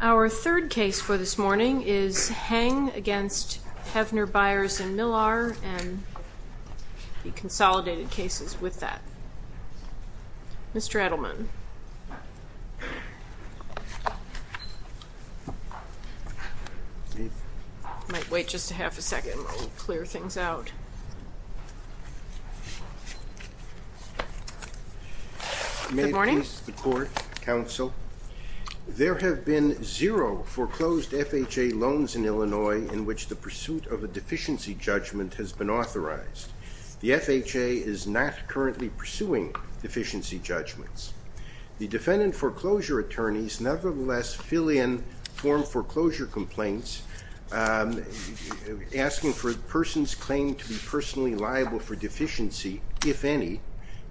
Our third case for this morning is Heng v. Heavner, Beyers & Mihlar, and the consolidated cases with that. Mr. Edelman, I might wait just a half a second while we clear things out. Good morning. There have been zero foreclosed FHA loans in Illinois in which the pursuit of a deficiency judgment has been authorized. The FHA is not currently pursuing deficiency judgments. The defendant foreclosure attorneys nevertheless fill in form foreclosure complaints asking for a person's claim to be personally liable for deficiency, if any,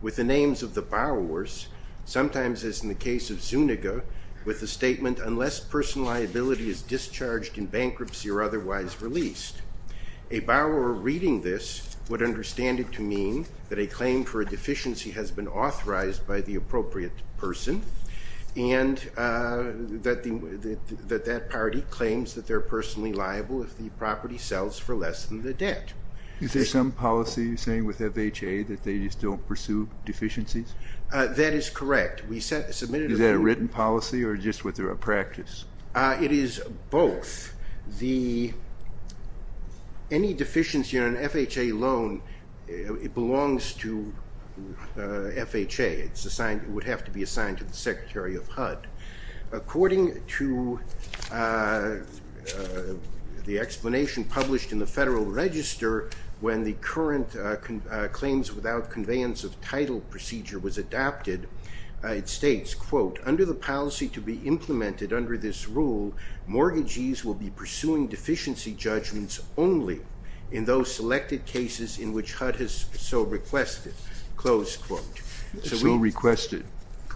with the names of the borrowers, sometimes, as in the case of Zuniga, with a statement, unless personal liability is discharged in bankruptcy or otherwise released. A borrower reading this would understand it to mean that a claim for a deficiency has been authorized by the appropriate person, and that that party claims that they're personally liable if the property sells for less than the debt. Is there some policy, you're saying, with FHA that they just don't pursue deficiencies? That is correct. Is that a written policy or just what they're a practice? It is both. Any deficiency on an FHA loan belongs to FHA. It would have to be assigned to the Secretary of HUD. According to the explanation published in the Federal Register when the current claims without conveyance of title procedure was adopted, it states, quote, under the policy to be implemented under this rule, mortgagees will be pursuing deficiency judgments only in those selected cases in which HUD has so requested, close quote. So requested.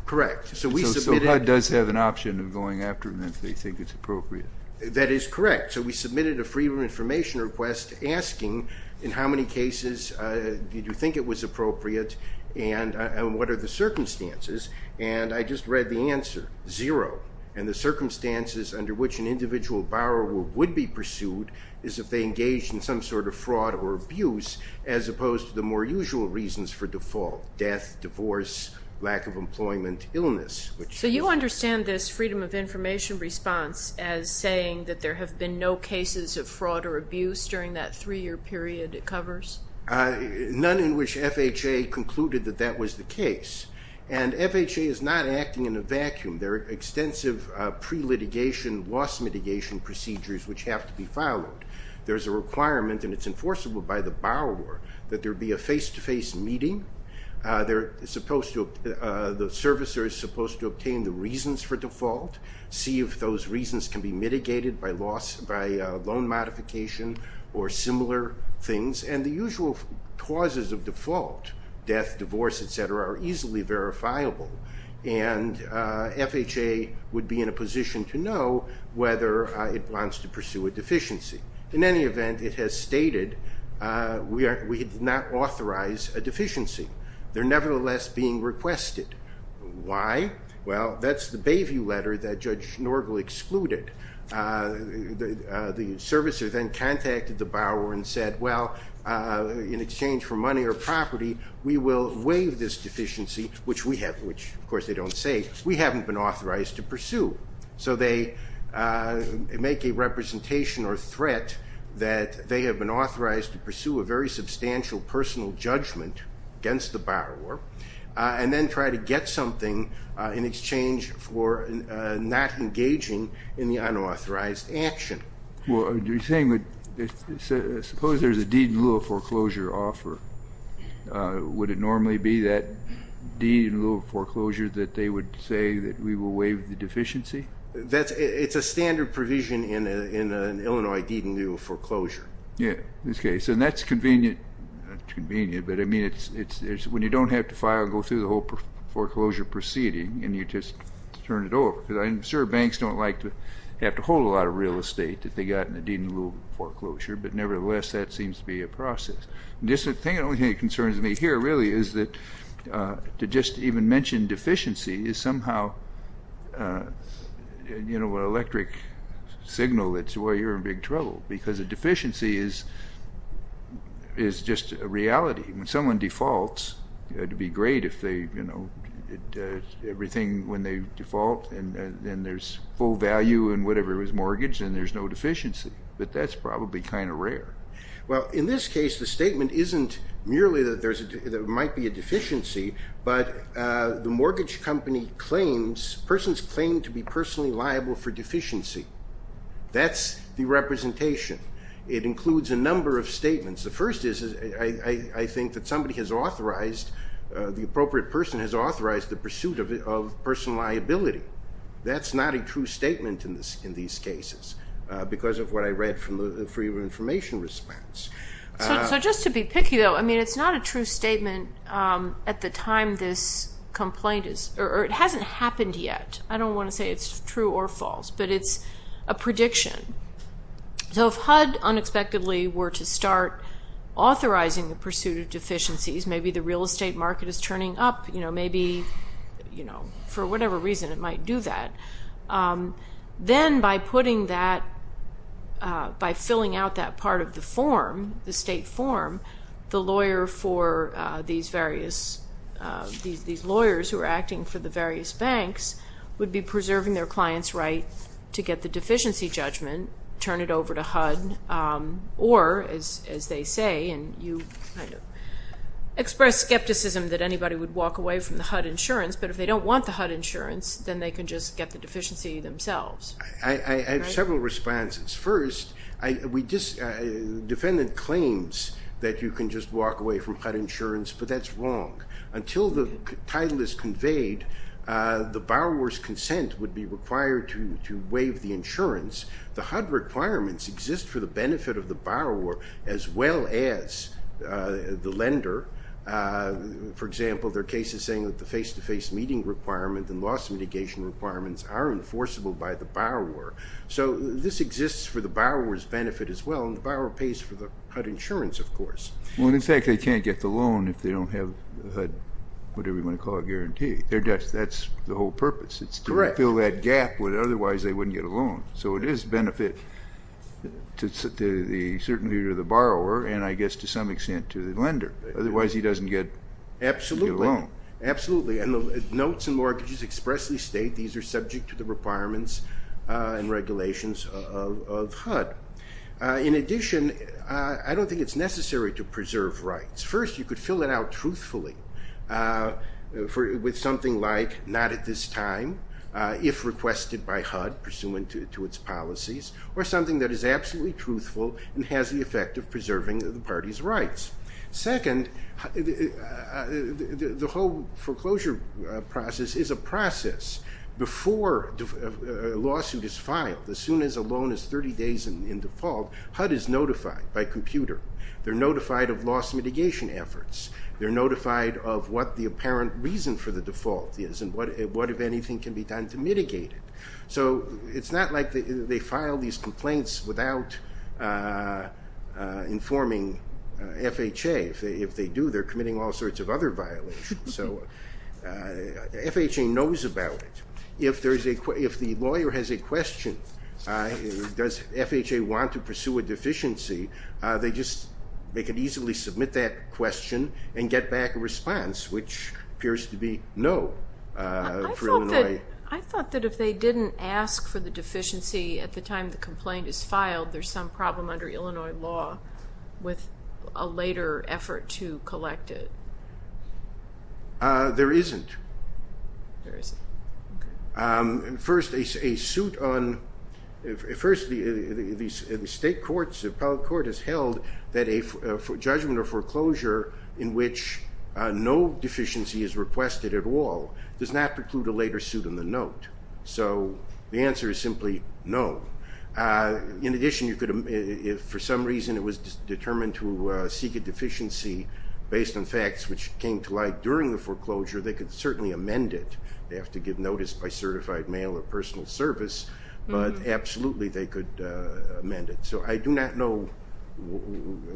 Correct. So HUD does have an option of going after them if they think it's appropriate. That is correct. So we submitted a Freedom of Information request asking in how many cases did you think it was appropriate and what are the circumstances, and I just read the answer, zero. And the circumstances under which an individual borrower would be pursued is if they engage in some sort of fraud or abuse, as opposed to the more usual reasons for default, death, divorce, lack of employment, illness. So you understand this Freedom of Information response as saying that there have been no cases of fraud or abuse during that three-year period it covers? None in which FHA concluded that that was the case. And FHA is not acting in a vacuum. There are extensive pre-litigation loss mitigation procedures which have to be followed. There's a requirement, and it's enforceable by the borrower, that there be a face-to-face meeting. The servicer is supposed to obtain the reasons for default, see if those reasons can be mitigated by loan modification or similar things, and the usual causes of default, death, divorce, et cetera, are easily verifiable, and FHA would be in a position to know whether it wants to pursue a deficiency. In any event, it has stated we did not authorize a deficiency. They're nevertheless being requested. Why? Well, that's the Bayview letter that Judge Norgal excluded. The servicer then contacted the borrower and said, well, in exchange for money or property, we will waive this deficiency, which, of course, they don't say. We haven't been authorized to pursue. So they make a representation or threat that they have been authorized to pursue a very substantial personal judgment against the borrower and then try to get something in exchange for not engaging in the unauthorized action. Well, are you saying that suppose there's a deed in lieu of foreclosure offer? Would it normally be that deed in lieu of foreclosure that they would say that we will waive the deficiency? It's a standard provision in an Illinois deed in lieu of foreclosure. Yeah, in this case. And that's convenient. But, I mean, when you don't have to go through the whole foreclosure proceeding and you just turn it over, because I'm sure banks don't like to have to hold a lot of real estate that they got in a deed in lieu of foreclosure, The only thing that concerns me here, really, is that to just even mention deficiency is somehow an electric signal that, well, you're in big trouble. Because a deficiency is just a reality. When someone defaults, it would be great if everything, when they default, and there's full value in whatever is mortgaged and there's no deficiency. But that's probably kind of rare. Well, in this case, the statement isn't merely that there might be a deficiency, but the mortgage company claims, persons claim to be personally liable for deficiency. That's the representation. It includes a number of statements. The first is I think that somebody has authorized, the appropriate person has authorized the pursuit of personal liability. That's not a true statement in these cases, because of what I read from the Freedom of Information response. So just to be picky, though, I mean, it's not a true statement at the time this complaint is, or it hasn't happened yet. I don't want to say it's true or false, but it's a prediction. So if HUD unexpectedly were to start authorizing the pursuit of deficiencies, maybe the real estate market is turning up, maybe for whatever reason it might do that, then by putting that, by filling out that part of the form, the state form, the lawyer for these various, these lawyers who are acting for the various banks would be preserving their client's right to get the deficiency judgment, turn it over to HUD, or, as they say, and you express skepticism that anybody would walk away from the HUD insurance, but if they don't want the HUD insurance, then they can just get the deficiency themselves. I have several responses. First, defendant claims that you can just walk away from HUD insurance, but that's wrong. Until the title is conveyed, the borrower's consent would be required to waive the insurance. The HUD requirements exist for the benefit of the borrower, as well as the lender. For example, there are cases saying that the face-to-face meeting requirement and loss mitigation requirements are enforceable by the borrower. So this exists for the borrower's benefit as well, and the borrower pays for the HUD insurance, of course. Well, in fact, they can't get the loan if they don't have the HUD, whatever you want to call it, guarantee. That's the whole purpose. Correct. It's to fill that gap where otherwise they wouldn't get a loan. So it is a benefit, certainly to the borrower, and I guess to some extent to the lender. Otherwise he doesn't get a loan. Absolutely. And the notes and mortgages expressly state these are subject to the requirements and regulations of HUD. In addition, I don't think it's necessary to preserve rights. First, you could fill it out truthfully with something like, not at this time, if requested by HUD pursuant to its policies, and has the effect of preserving the party's rights. Second, the whole foreclosure process is a process. Before a lawsuit is filed, as soon as a loan is 30 days in default, HUD is notified by computer. They're notified of lost mitigation efforts. They're notified of what the apparent reason for the default is and what, if anything, can be done to mitigate it. So it's not like they file these complaints without informing FHA. If they do, they're committing all sorts of other violations. So FHA knows about it. If the lawyer has a question, does FHA want to pursue a deficiency, they could easily submit that question and get back a response, which appears to be no. I thought that if they didn't ask for the deficiency at the time the complaint is filed, there's some problem under Illinois law with a later effort to collect it. There isn't. There isn't. Okay. First, the state courts, the appellate court, has held that a judgment of foreclosure in which no deficiency is requested at all does not preclude a later suit in the note. So the answer is simply no. In addition, if for some reason it was determined to seek a deficiency based on facts which came to light during the foreclosure, they could certainly amend it. They have to give notice by certified mail or personal service, but absolutely they could amend it. So I do not know.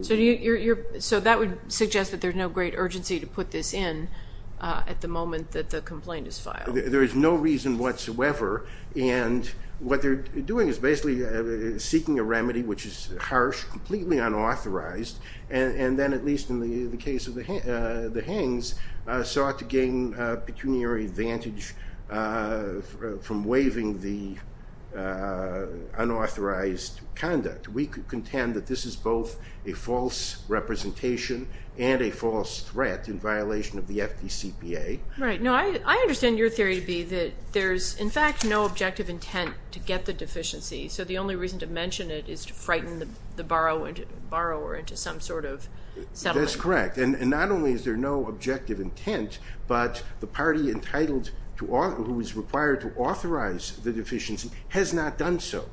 So that would suggest that there's no great urgency to put this in at the moment that the complaint is filed. There is no reason whatsoever. And what they're doing is basically seeking a remedy which is harsh, completely unauthorized, and then at least in the case of the Hengs, sought to gain a pecuniary advantage from waiving the unauthorized conduct. We could contend that this is both a false representation and a false threat in violation of the FDCPA. Right. No, I understand your theory to be that there's, in fact, no objective intent to get the deficiency, so the only reason to mention it is to frighten the borrower into some sort of settlement. That's correct. And not only is there no objective intent, but the party entitled who is required to authorize the deficiency has not done so.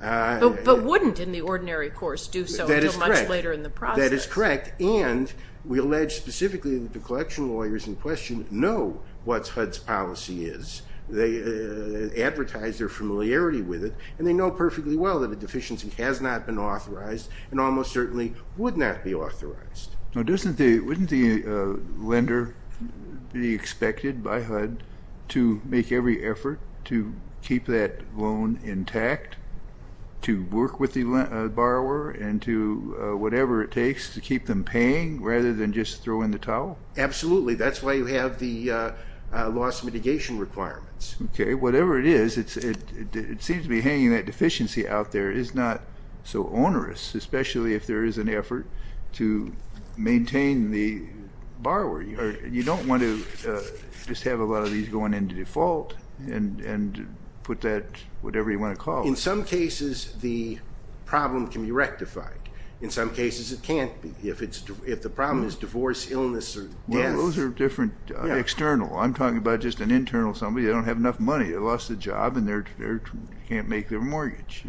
But wouldn't in the ordinary course do so until much later in the process? That is correct. And we allege specifically that the collection lawyers in question know what HUD's policy is. They advertise their familiarity with it, and they know perfectly well that a deficiency has not been authorized and almost certainly would not be authorized. Now, wouldn't the lender be expected by HUD to make every effort to keep that loan intact, to work with the borrower, and to do whatever it takes to keep them paying rather than just throw in the towel? Absolutely. That's why you have the loss mitigation requirements. Okay. Whatever it is, it seems to be hanging, that deficiency out there is not so onerous, especially if there is an effort to maintain the borrower. You don't want to just have a lot of these going into default and put that whatever you want to call it. In some cases, the problem can be rectified. In some cases, it can't be. If the problem is divorce, illness, or death. Well, those are different external. I'm talking about just an internal somebody. They don't have enough money. They lost a job, and they can't make their mortgage,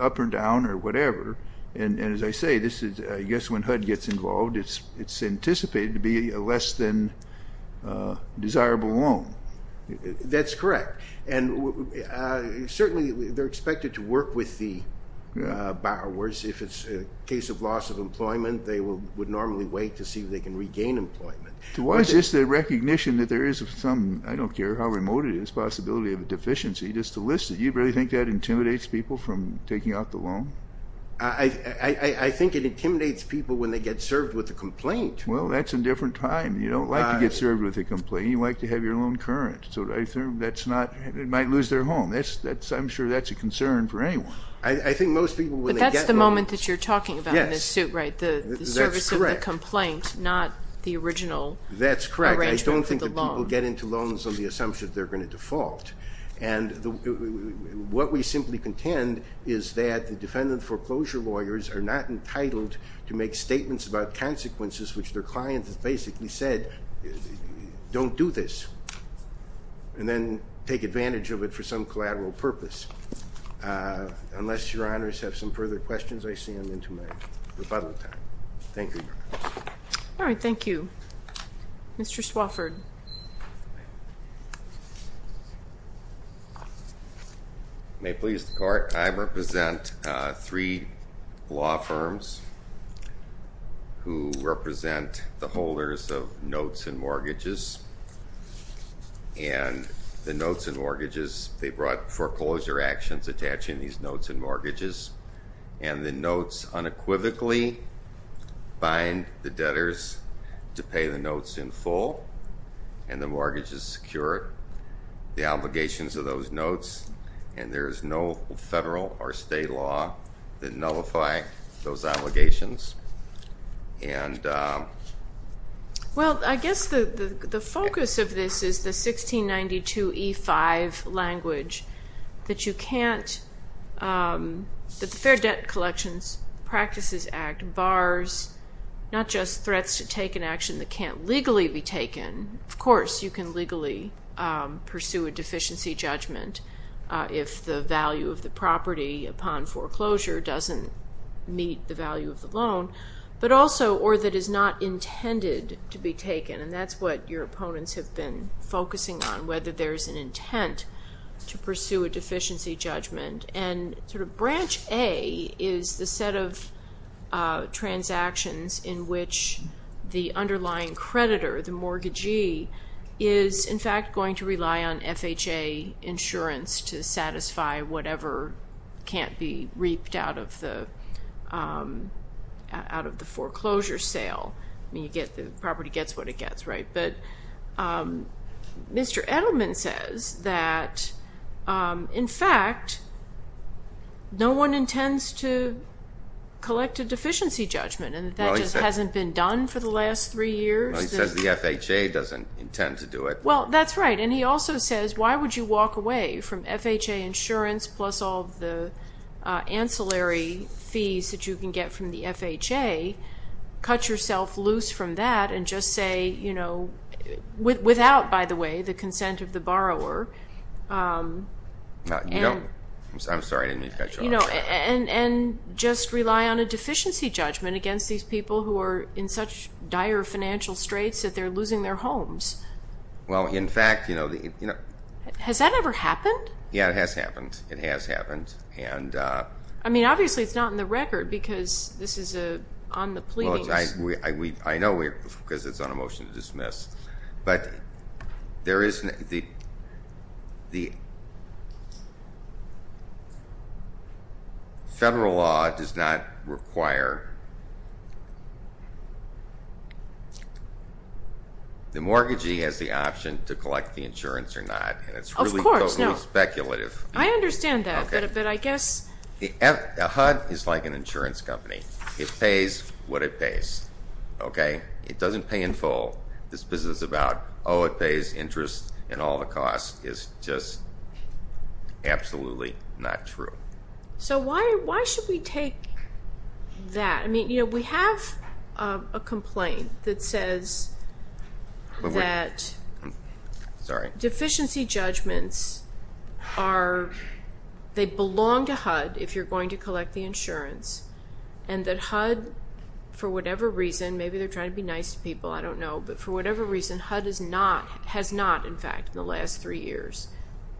up or down or whatever. And as I say, I guess when HUD gets involved, it's anticipated to be a less than desirable loan. That's correct. Certainly, they're expected to work with the borrowers. If it's a case of loss of employment, they would normally wait to see if they can regain employment. Why is this the recognition that there is some, I don't care how remote it is, possibility of a deficiency? Just to list it, you really think that intimidates people from taking out the loan? I think it intimidates people when they get served with a complaint. Well, that's a different time. You don't like to get served with a complaint. You like to have your loan current. It might lose their home. I'm sure that's a concern for anyone. I think most people when they get loans. But that's the moment that you're talking about in this suit, right? Yes, that's correct. The service of the complaint, not the original arrangement for the loan. That's correct. I don't think that people get into loans on the assumption they're going to default. And what we simply contend is that the defendant foreclosure lawyers are not entitled to make statements about consequences, which their client has basically said, don't do this. And then take advantage of it for some collateral purpose. Unless Your Honors have some further questions, I see I'm into my rebuttal time. Thank you, Your Honors. All right. Thank you. Mr. Swafford. May it please the Court, I represent three law firms who represent the holders of notes and mortgages. And the notes and mortgages, they brought foreclosure actions attaching these notes and mortgages. And the notes unequivocally bind the debtors to pay the notes in full. And the mortgages secure the obligations of those notes. And there is no federal or state law that nullify those allegations. Well, I guess the focus of this is the 1692E5 language that you can't, that the Fair Debt Collections Practices Act bars not just threats to take an action that can't legally be taken. Of course, you can legally pursue a deficiency judgment if the value of the property upon foreclosure doesn't meet the value of the loan. But also, or that is not intended to be taken. And that's what your opponents have been focusing on, whether there's an intent to pursue a deficiency judgment. And Branch A is the set of transactions in which the underlying creditor, the mortgagee, is in fact going to rely on FHA insurance to satisfy whatever can't be reaped out of the foreclosure sale. I mean, the property gets what it gets, right? But Mr. Edelman says that, in fact, no one intends to collect a deficiency judgment. And that just hasn't been done for the last three years. Well, he says the FHA doesn't intend to do it. Well, that's right. And he also says, why would you walk away from FHA insurance plus all the ancillary fees that you can get from the FHA, cut yourself loose from that and just say, you know, without, by the way, the consent of the borrower, and just rely on a deficiency judgment against these people who are in such dire financial straits that they're losing their homes. Well, in fact, you know the – Has that ever happened? Yeah, it has happened. It has happened. I mean, obviously it's not in the record because this is on the pleadings. I know because it's on a motion to dismiss. But there is the federal law does not require the mortgagee has the option to collect the insurance or not. Of course, no. And it's really totally speculative. I understand that. Okay. But I guess. HUD is like an insurance company. It pays what it pays. Okay? It doesn't pay in full. This business is about, oh, it pays interest and all the costs. It's just absolutely not true. So why should we take that? I mean, you know, we have a complaint that says that deficiency judgments are – they belong to HUD if you're going to collect the insurance, and that HUD, for whatever reason, maybe they're trying to be nice to people, I don't know, but for whatever reason, HUD has not, in fact, in the last three years,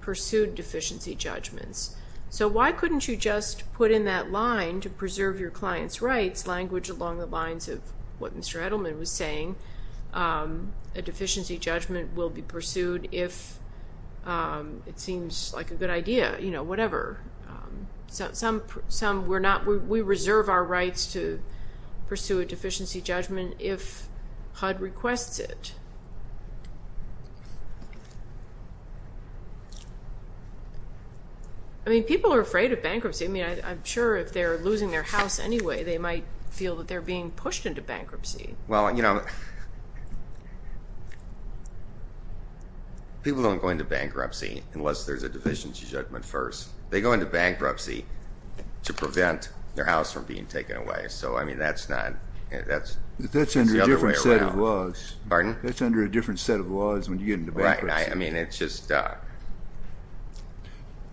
pursued deficiency judgments. So why couldn't you just put in that line to preserve your client's rights, language along the lines of what Mr. Edelman was saying, a deficiency judgment will be pursued if it seems like a good idea, you know, whatever. We reserve our rights to pursue a deficiency judgment if HUD requests it. I mean, people are afraid of bankruptcy. I mean, I'm sure if they're losing their house anyway, they might feel that they're being pushed into bankruptcy. Well, you know, people don't go into bankruptcy unless there's a deficiency judgment first. They go into bankruptcy to prevent their house from being taken away. So, I mean, that's not – that's the other way around. That's under a different set of laws. Pardon? That's under a different set of laws when you get into bankruptcy. Right. I mean, it's just –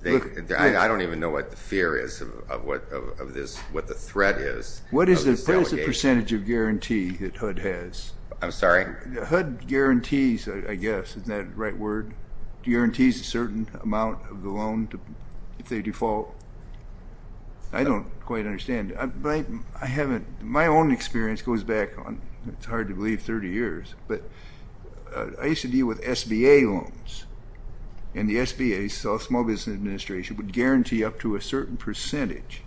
I don't even know what the fear is of what the threat is. What is the percentage of guarantee that HUD has? I'm sorry? HUD guarantees, I guess, isn't that the right word? HUD guarantees a certain amount of the loan if they default. I don't quite understand. I haven't – my own experience goes back on – it's hard to believe 30 years, but I used to deal with SBA loans, and the SBA, Small Business Administration, would guarantee up to a certain percentage,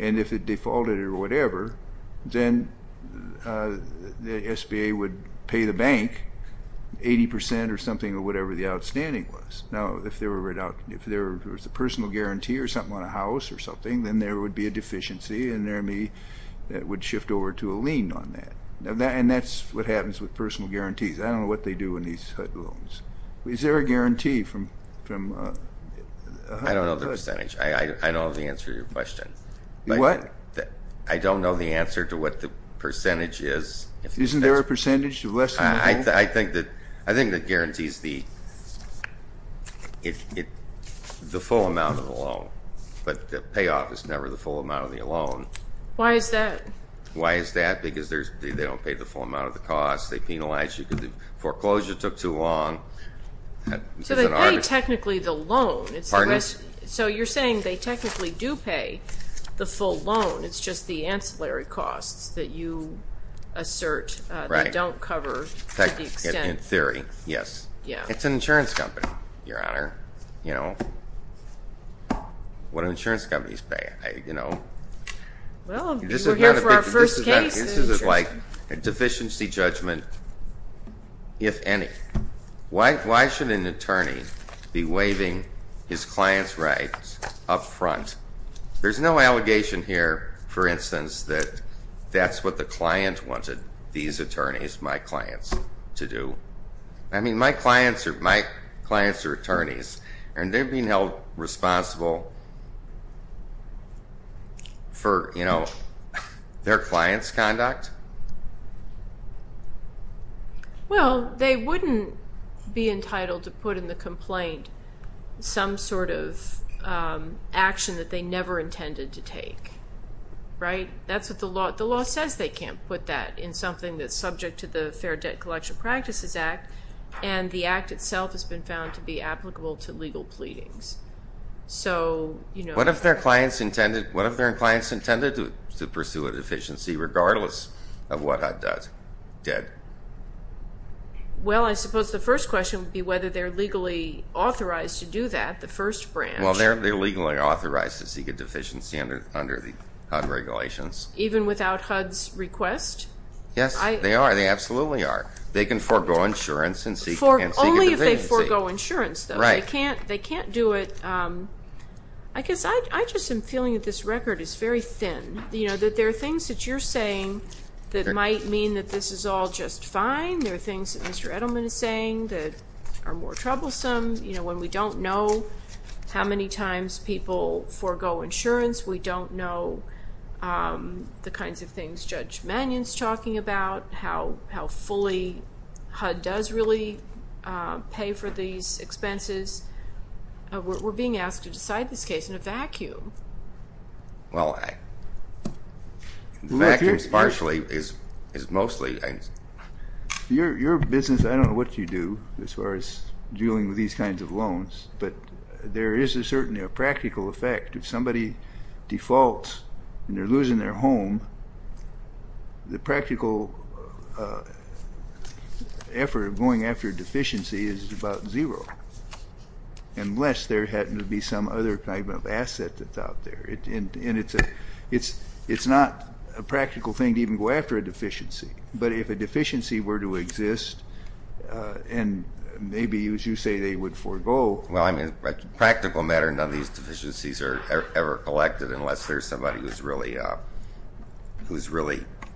and if it defaulted or whatever, then the SBA would pay the bank 80% or something or whatever the outstanding was. Now, if there was a personal guarantee or something on a house or something, then there would be a deficiency, and there would be – it would shift over to a lien on that. And that's what happens with personal guarantees. I don't know what they do in these HUD loans. Is there a guarantee from HUD? I don't know the percentage. I don't know the answer to your question. What? I don't know the answer to what the percentage is. Isn't there a percentage? I think that guarantees the full amount of the loan, but the payoff is never the full amount of the loan. Why is that? Why is that? Because they don't pay the full amount of the cost. They penalize you because the foreclosure took too long. So they pay technically the loan. Pardon me? So you're saying they technically do pay the full loan. It's just the ancillary costs that you assert they don't cover to the extent. In theory, yes. Yeah. It's an insurance company, Your Honor. What do insurance companies pay? Well, we're here for our first case. This is like a deficiency judgment, if any. Why should an attorney be waiving his client's rights up front? There's no allegation here, for instance, that that's what the client wanted these attorneys, my clients, to do. I mean, my clients are attorneys, and they're being held responsible for their client's conduct? Well, they wouldn't be entitled to put in the complaint some sort of action that they never intended to take. Right? The law says they can't put that in something that's subject to the Fair Debt Collection Practices Act, and the act itself has been found to be applicable to legal pleadings. What if their client's intended to pursue a deficiency, regardless of what HUD did? Well, I suppose the first question would be whether they're legally authorized to do that, the first branch. Well, they're legally authorized to seek a deficiency under the HUD regulations. Even without HUD's request? Yes, they are. They absolutely are. They can forego insurance and seek a deficiency. Only if they forego insurance, though. Right. They can't do it. I guess I just am feeling that this record is very thin, that there are things that you're saying that might mean that this is all just fine. There are things that Mr. Edelman is saying that are more troublesome. When we don't know how many times people forego insurance, we don't know the kinds of things Judge Mannion's talking about, how fully HUD does really pay for these expenses. Well, the fact that it's partially is mostly. Your business, I don't know what you do as far as dealing with these kinds of loans, but there is a certain practical effect. If somebody defaults and they're losing their home, the practical effort of going after a deficiency is about zero, unless there happens to be some other type of asset that's out there. And it's not a practical thing to even go after a deficiency. But if a deficiency were to exist, and maybe, as you say, they would forego. Well, I mean, practical matter, none of these deficiencies are ever collected unless there's somebody who's really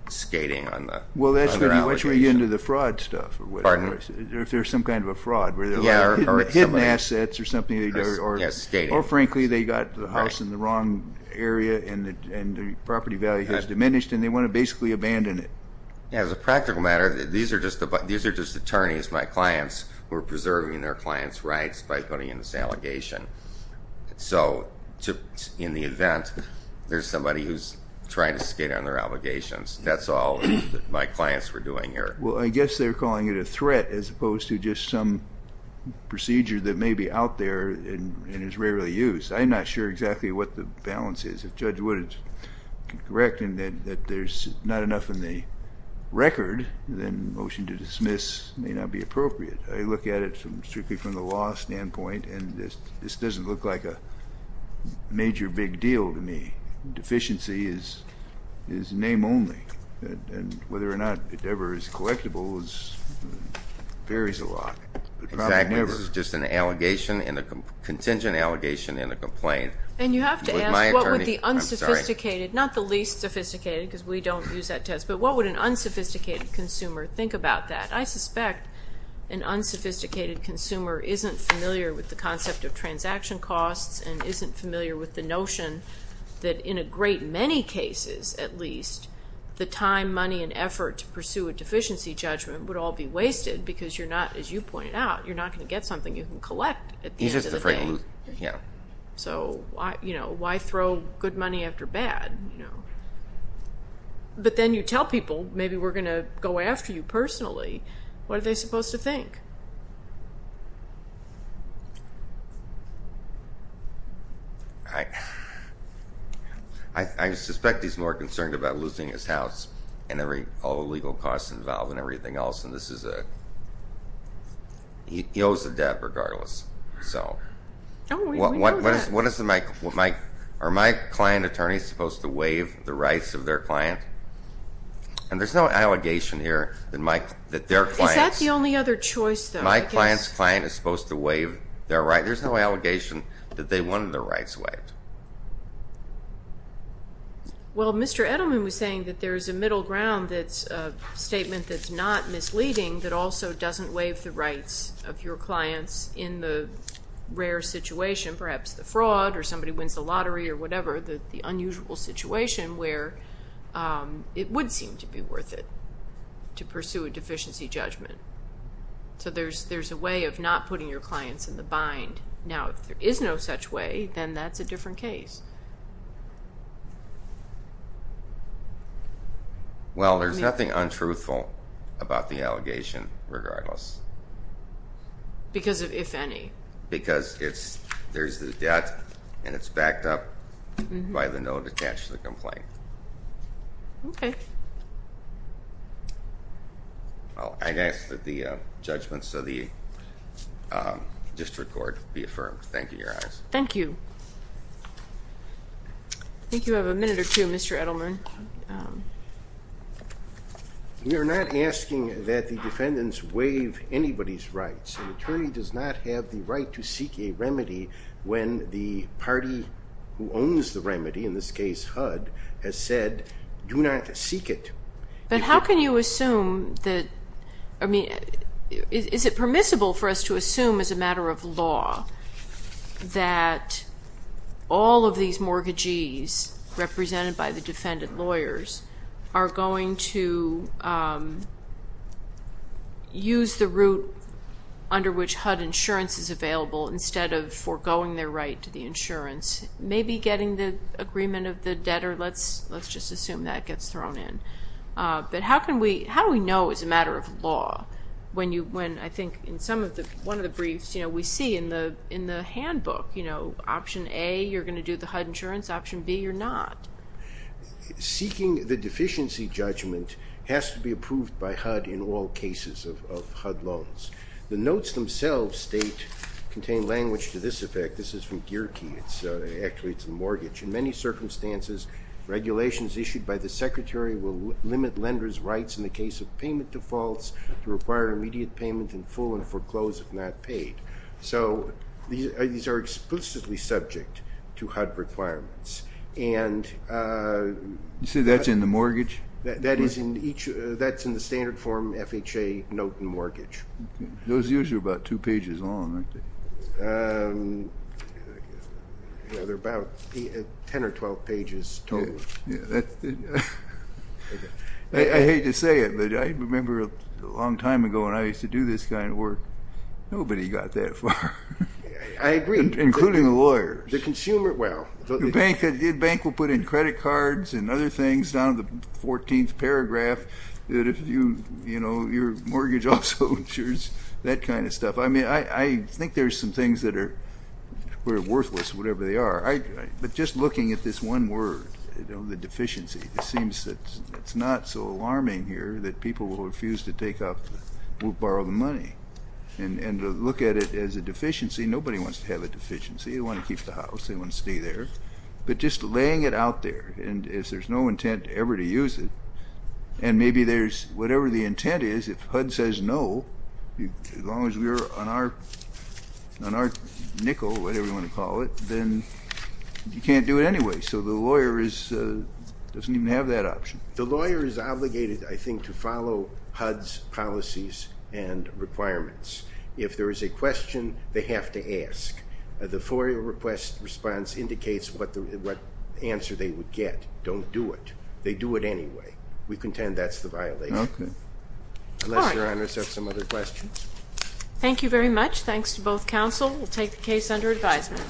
skating on their allocation. Well, that's when you get into the fraud stuff. Pardon? If there's some kind of a fraud. Yeah. Hidden assets or something. Yes, skating. Or, frankly, they got the house in the wrong area and the property value has diminished, and they want to basically abandon it. As a practical matter, these are just attorneys, my clients, who are preserving their clients' rights by putting in this allegation. So in the event, there's somebody who's trying to skate on their allegations. That's all my clients were doing here. Well, I guess they're calling it a threat as opposed to just some procedure that may be out there and is rarely used. I'm not sure exactly what the balance is. If Judge Wood is correct in that there's not enough in the record, then motion to dismiss may not be appropriate. I look at it strictly from the law standpoint, and this doesn't look like a major big deal to me. Deficiency is name only. Whether or not it ever is collectible varies a lot. Exactly. This is just a contingent allegation and a complaint. And you have to ask what would the unsophisticated, not the least sophisticated because we don't use that test, but what would an unsophisticated consumer think about that? I suspect an unsophisticated consumer isn't familiar with the concept of transaction costs and isn't familiar with the notion that in a great many cases at least, the time, money, and effort to pursue a deficiency judgment would all be wasted because you're not, as you pointed out, you're not going to get something you can collect at the end of the day. So why throw good money after bad? But then you tell people, maybe we're going to go after you personally. What are they supposed to think? I suspect he's more concerned about losing his house and all the legal costs involved and everything else. He owes a debt regardless. Oh, we know that. Are my client attorneys supposed to waive the rights of their client? And there's no allegation here that their client's... Is that the only other choice, though? My client's client is supposed to waive their right. There's no allegation that they wanted their rights waived. Well, Mr. Edelman was saying that there is a middle ground that's a statement that's not misleading that also doesn't waive the rights of your clients in the rare situation, perhaps the fraud or somebody wins the lottery or whatever, the unusual situation where it would seem to be worth it to pursue a deficiency judgment. So there's a way of not putting your clients in the bind. Now, if there is no such way, then that's a different case. Well, there's nothing untruthful about the allegation regardless. Because if any. Because there's the debt and it's backed up by the note attached to the complaint. Okay. I ask that the judgments of the district court be affirmed. Thank you, Your Honor. Thank you. I think you have a minute or two, Mr. Edelman. We are not asking that the defendants waive anybody's rights. An attorney does not have the right to seek a remedy when the party who owns the remedy, in this case HUD, has said do not seek it. But how can you assume that, I mean, is it permissible for us to assume as a matter of law that all of these mortgagees represented by the under which HUD insurance is available, instead of foregoing their right to the insurance, may be getting the agreement of the debtor? Let's just assume that gets thrown in. But how do we know as a matter of law when, I think, in one of the briefs, we see in the handbook option A, you're going to do the HUD insurance, option B, you're not? Seeking the deficiency judgment has to be approved by HUD in all cases of HUD loans. The notes themselves state, contain language to this effect. This is from Geerke. Actually, it's a mortgage. In many circumstances, regulations issued by the secretary will limit lenders' rights in the case of payment defaults to require immediate payment in full and foreclose if not paid. So these are explicitly subject to HUD requirements. You say that's in the mortgage? That's in the standard form FHA note and mortgage. Those usually are about two pages long, aren't they? They're about 10 or 12 pages total. I hate to say it, but I remember a long time ago when I used to do this kind of work, nobody got that far. I agree. Including the lawyers. The bank will put in credit cards and other things down in the 14th paragraph. Your mortgage also insures that kind of stuff. I mean, I think there are some things that are worthless, whatever they are. But just looking at this one word, the deficiency, it seems that it's not so alarming here that people will refuse to take up, will borrow the money. And to look at it as a deficiency, nobody wants to have a deficiency. They want to keep the house. They want to stay there. But just laying it out there, and if there's no intent ever to use it, and maybe there's whatever the intent is, if HUD says no, as long as we're on our nickel, whatever you want to call it, then you can't do it anyway. So the lawyer doesn't even have that option. The lawyer is obligated, I think, to follow HUD's policies and requirements. If there is a question, they have to ask. The FOIA request response indicates what answer they would get. Don't do it. They do it anyway. We contend that's the violation. Unless Your Honors have some other questions. Thank you very much. Thanks to both counsel. We'll take the case under advisement.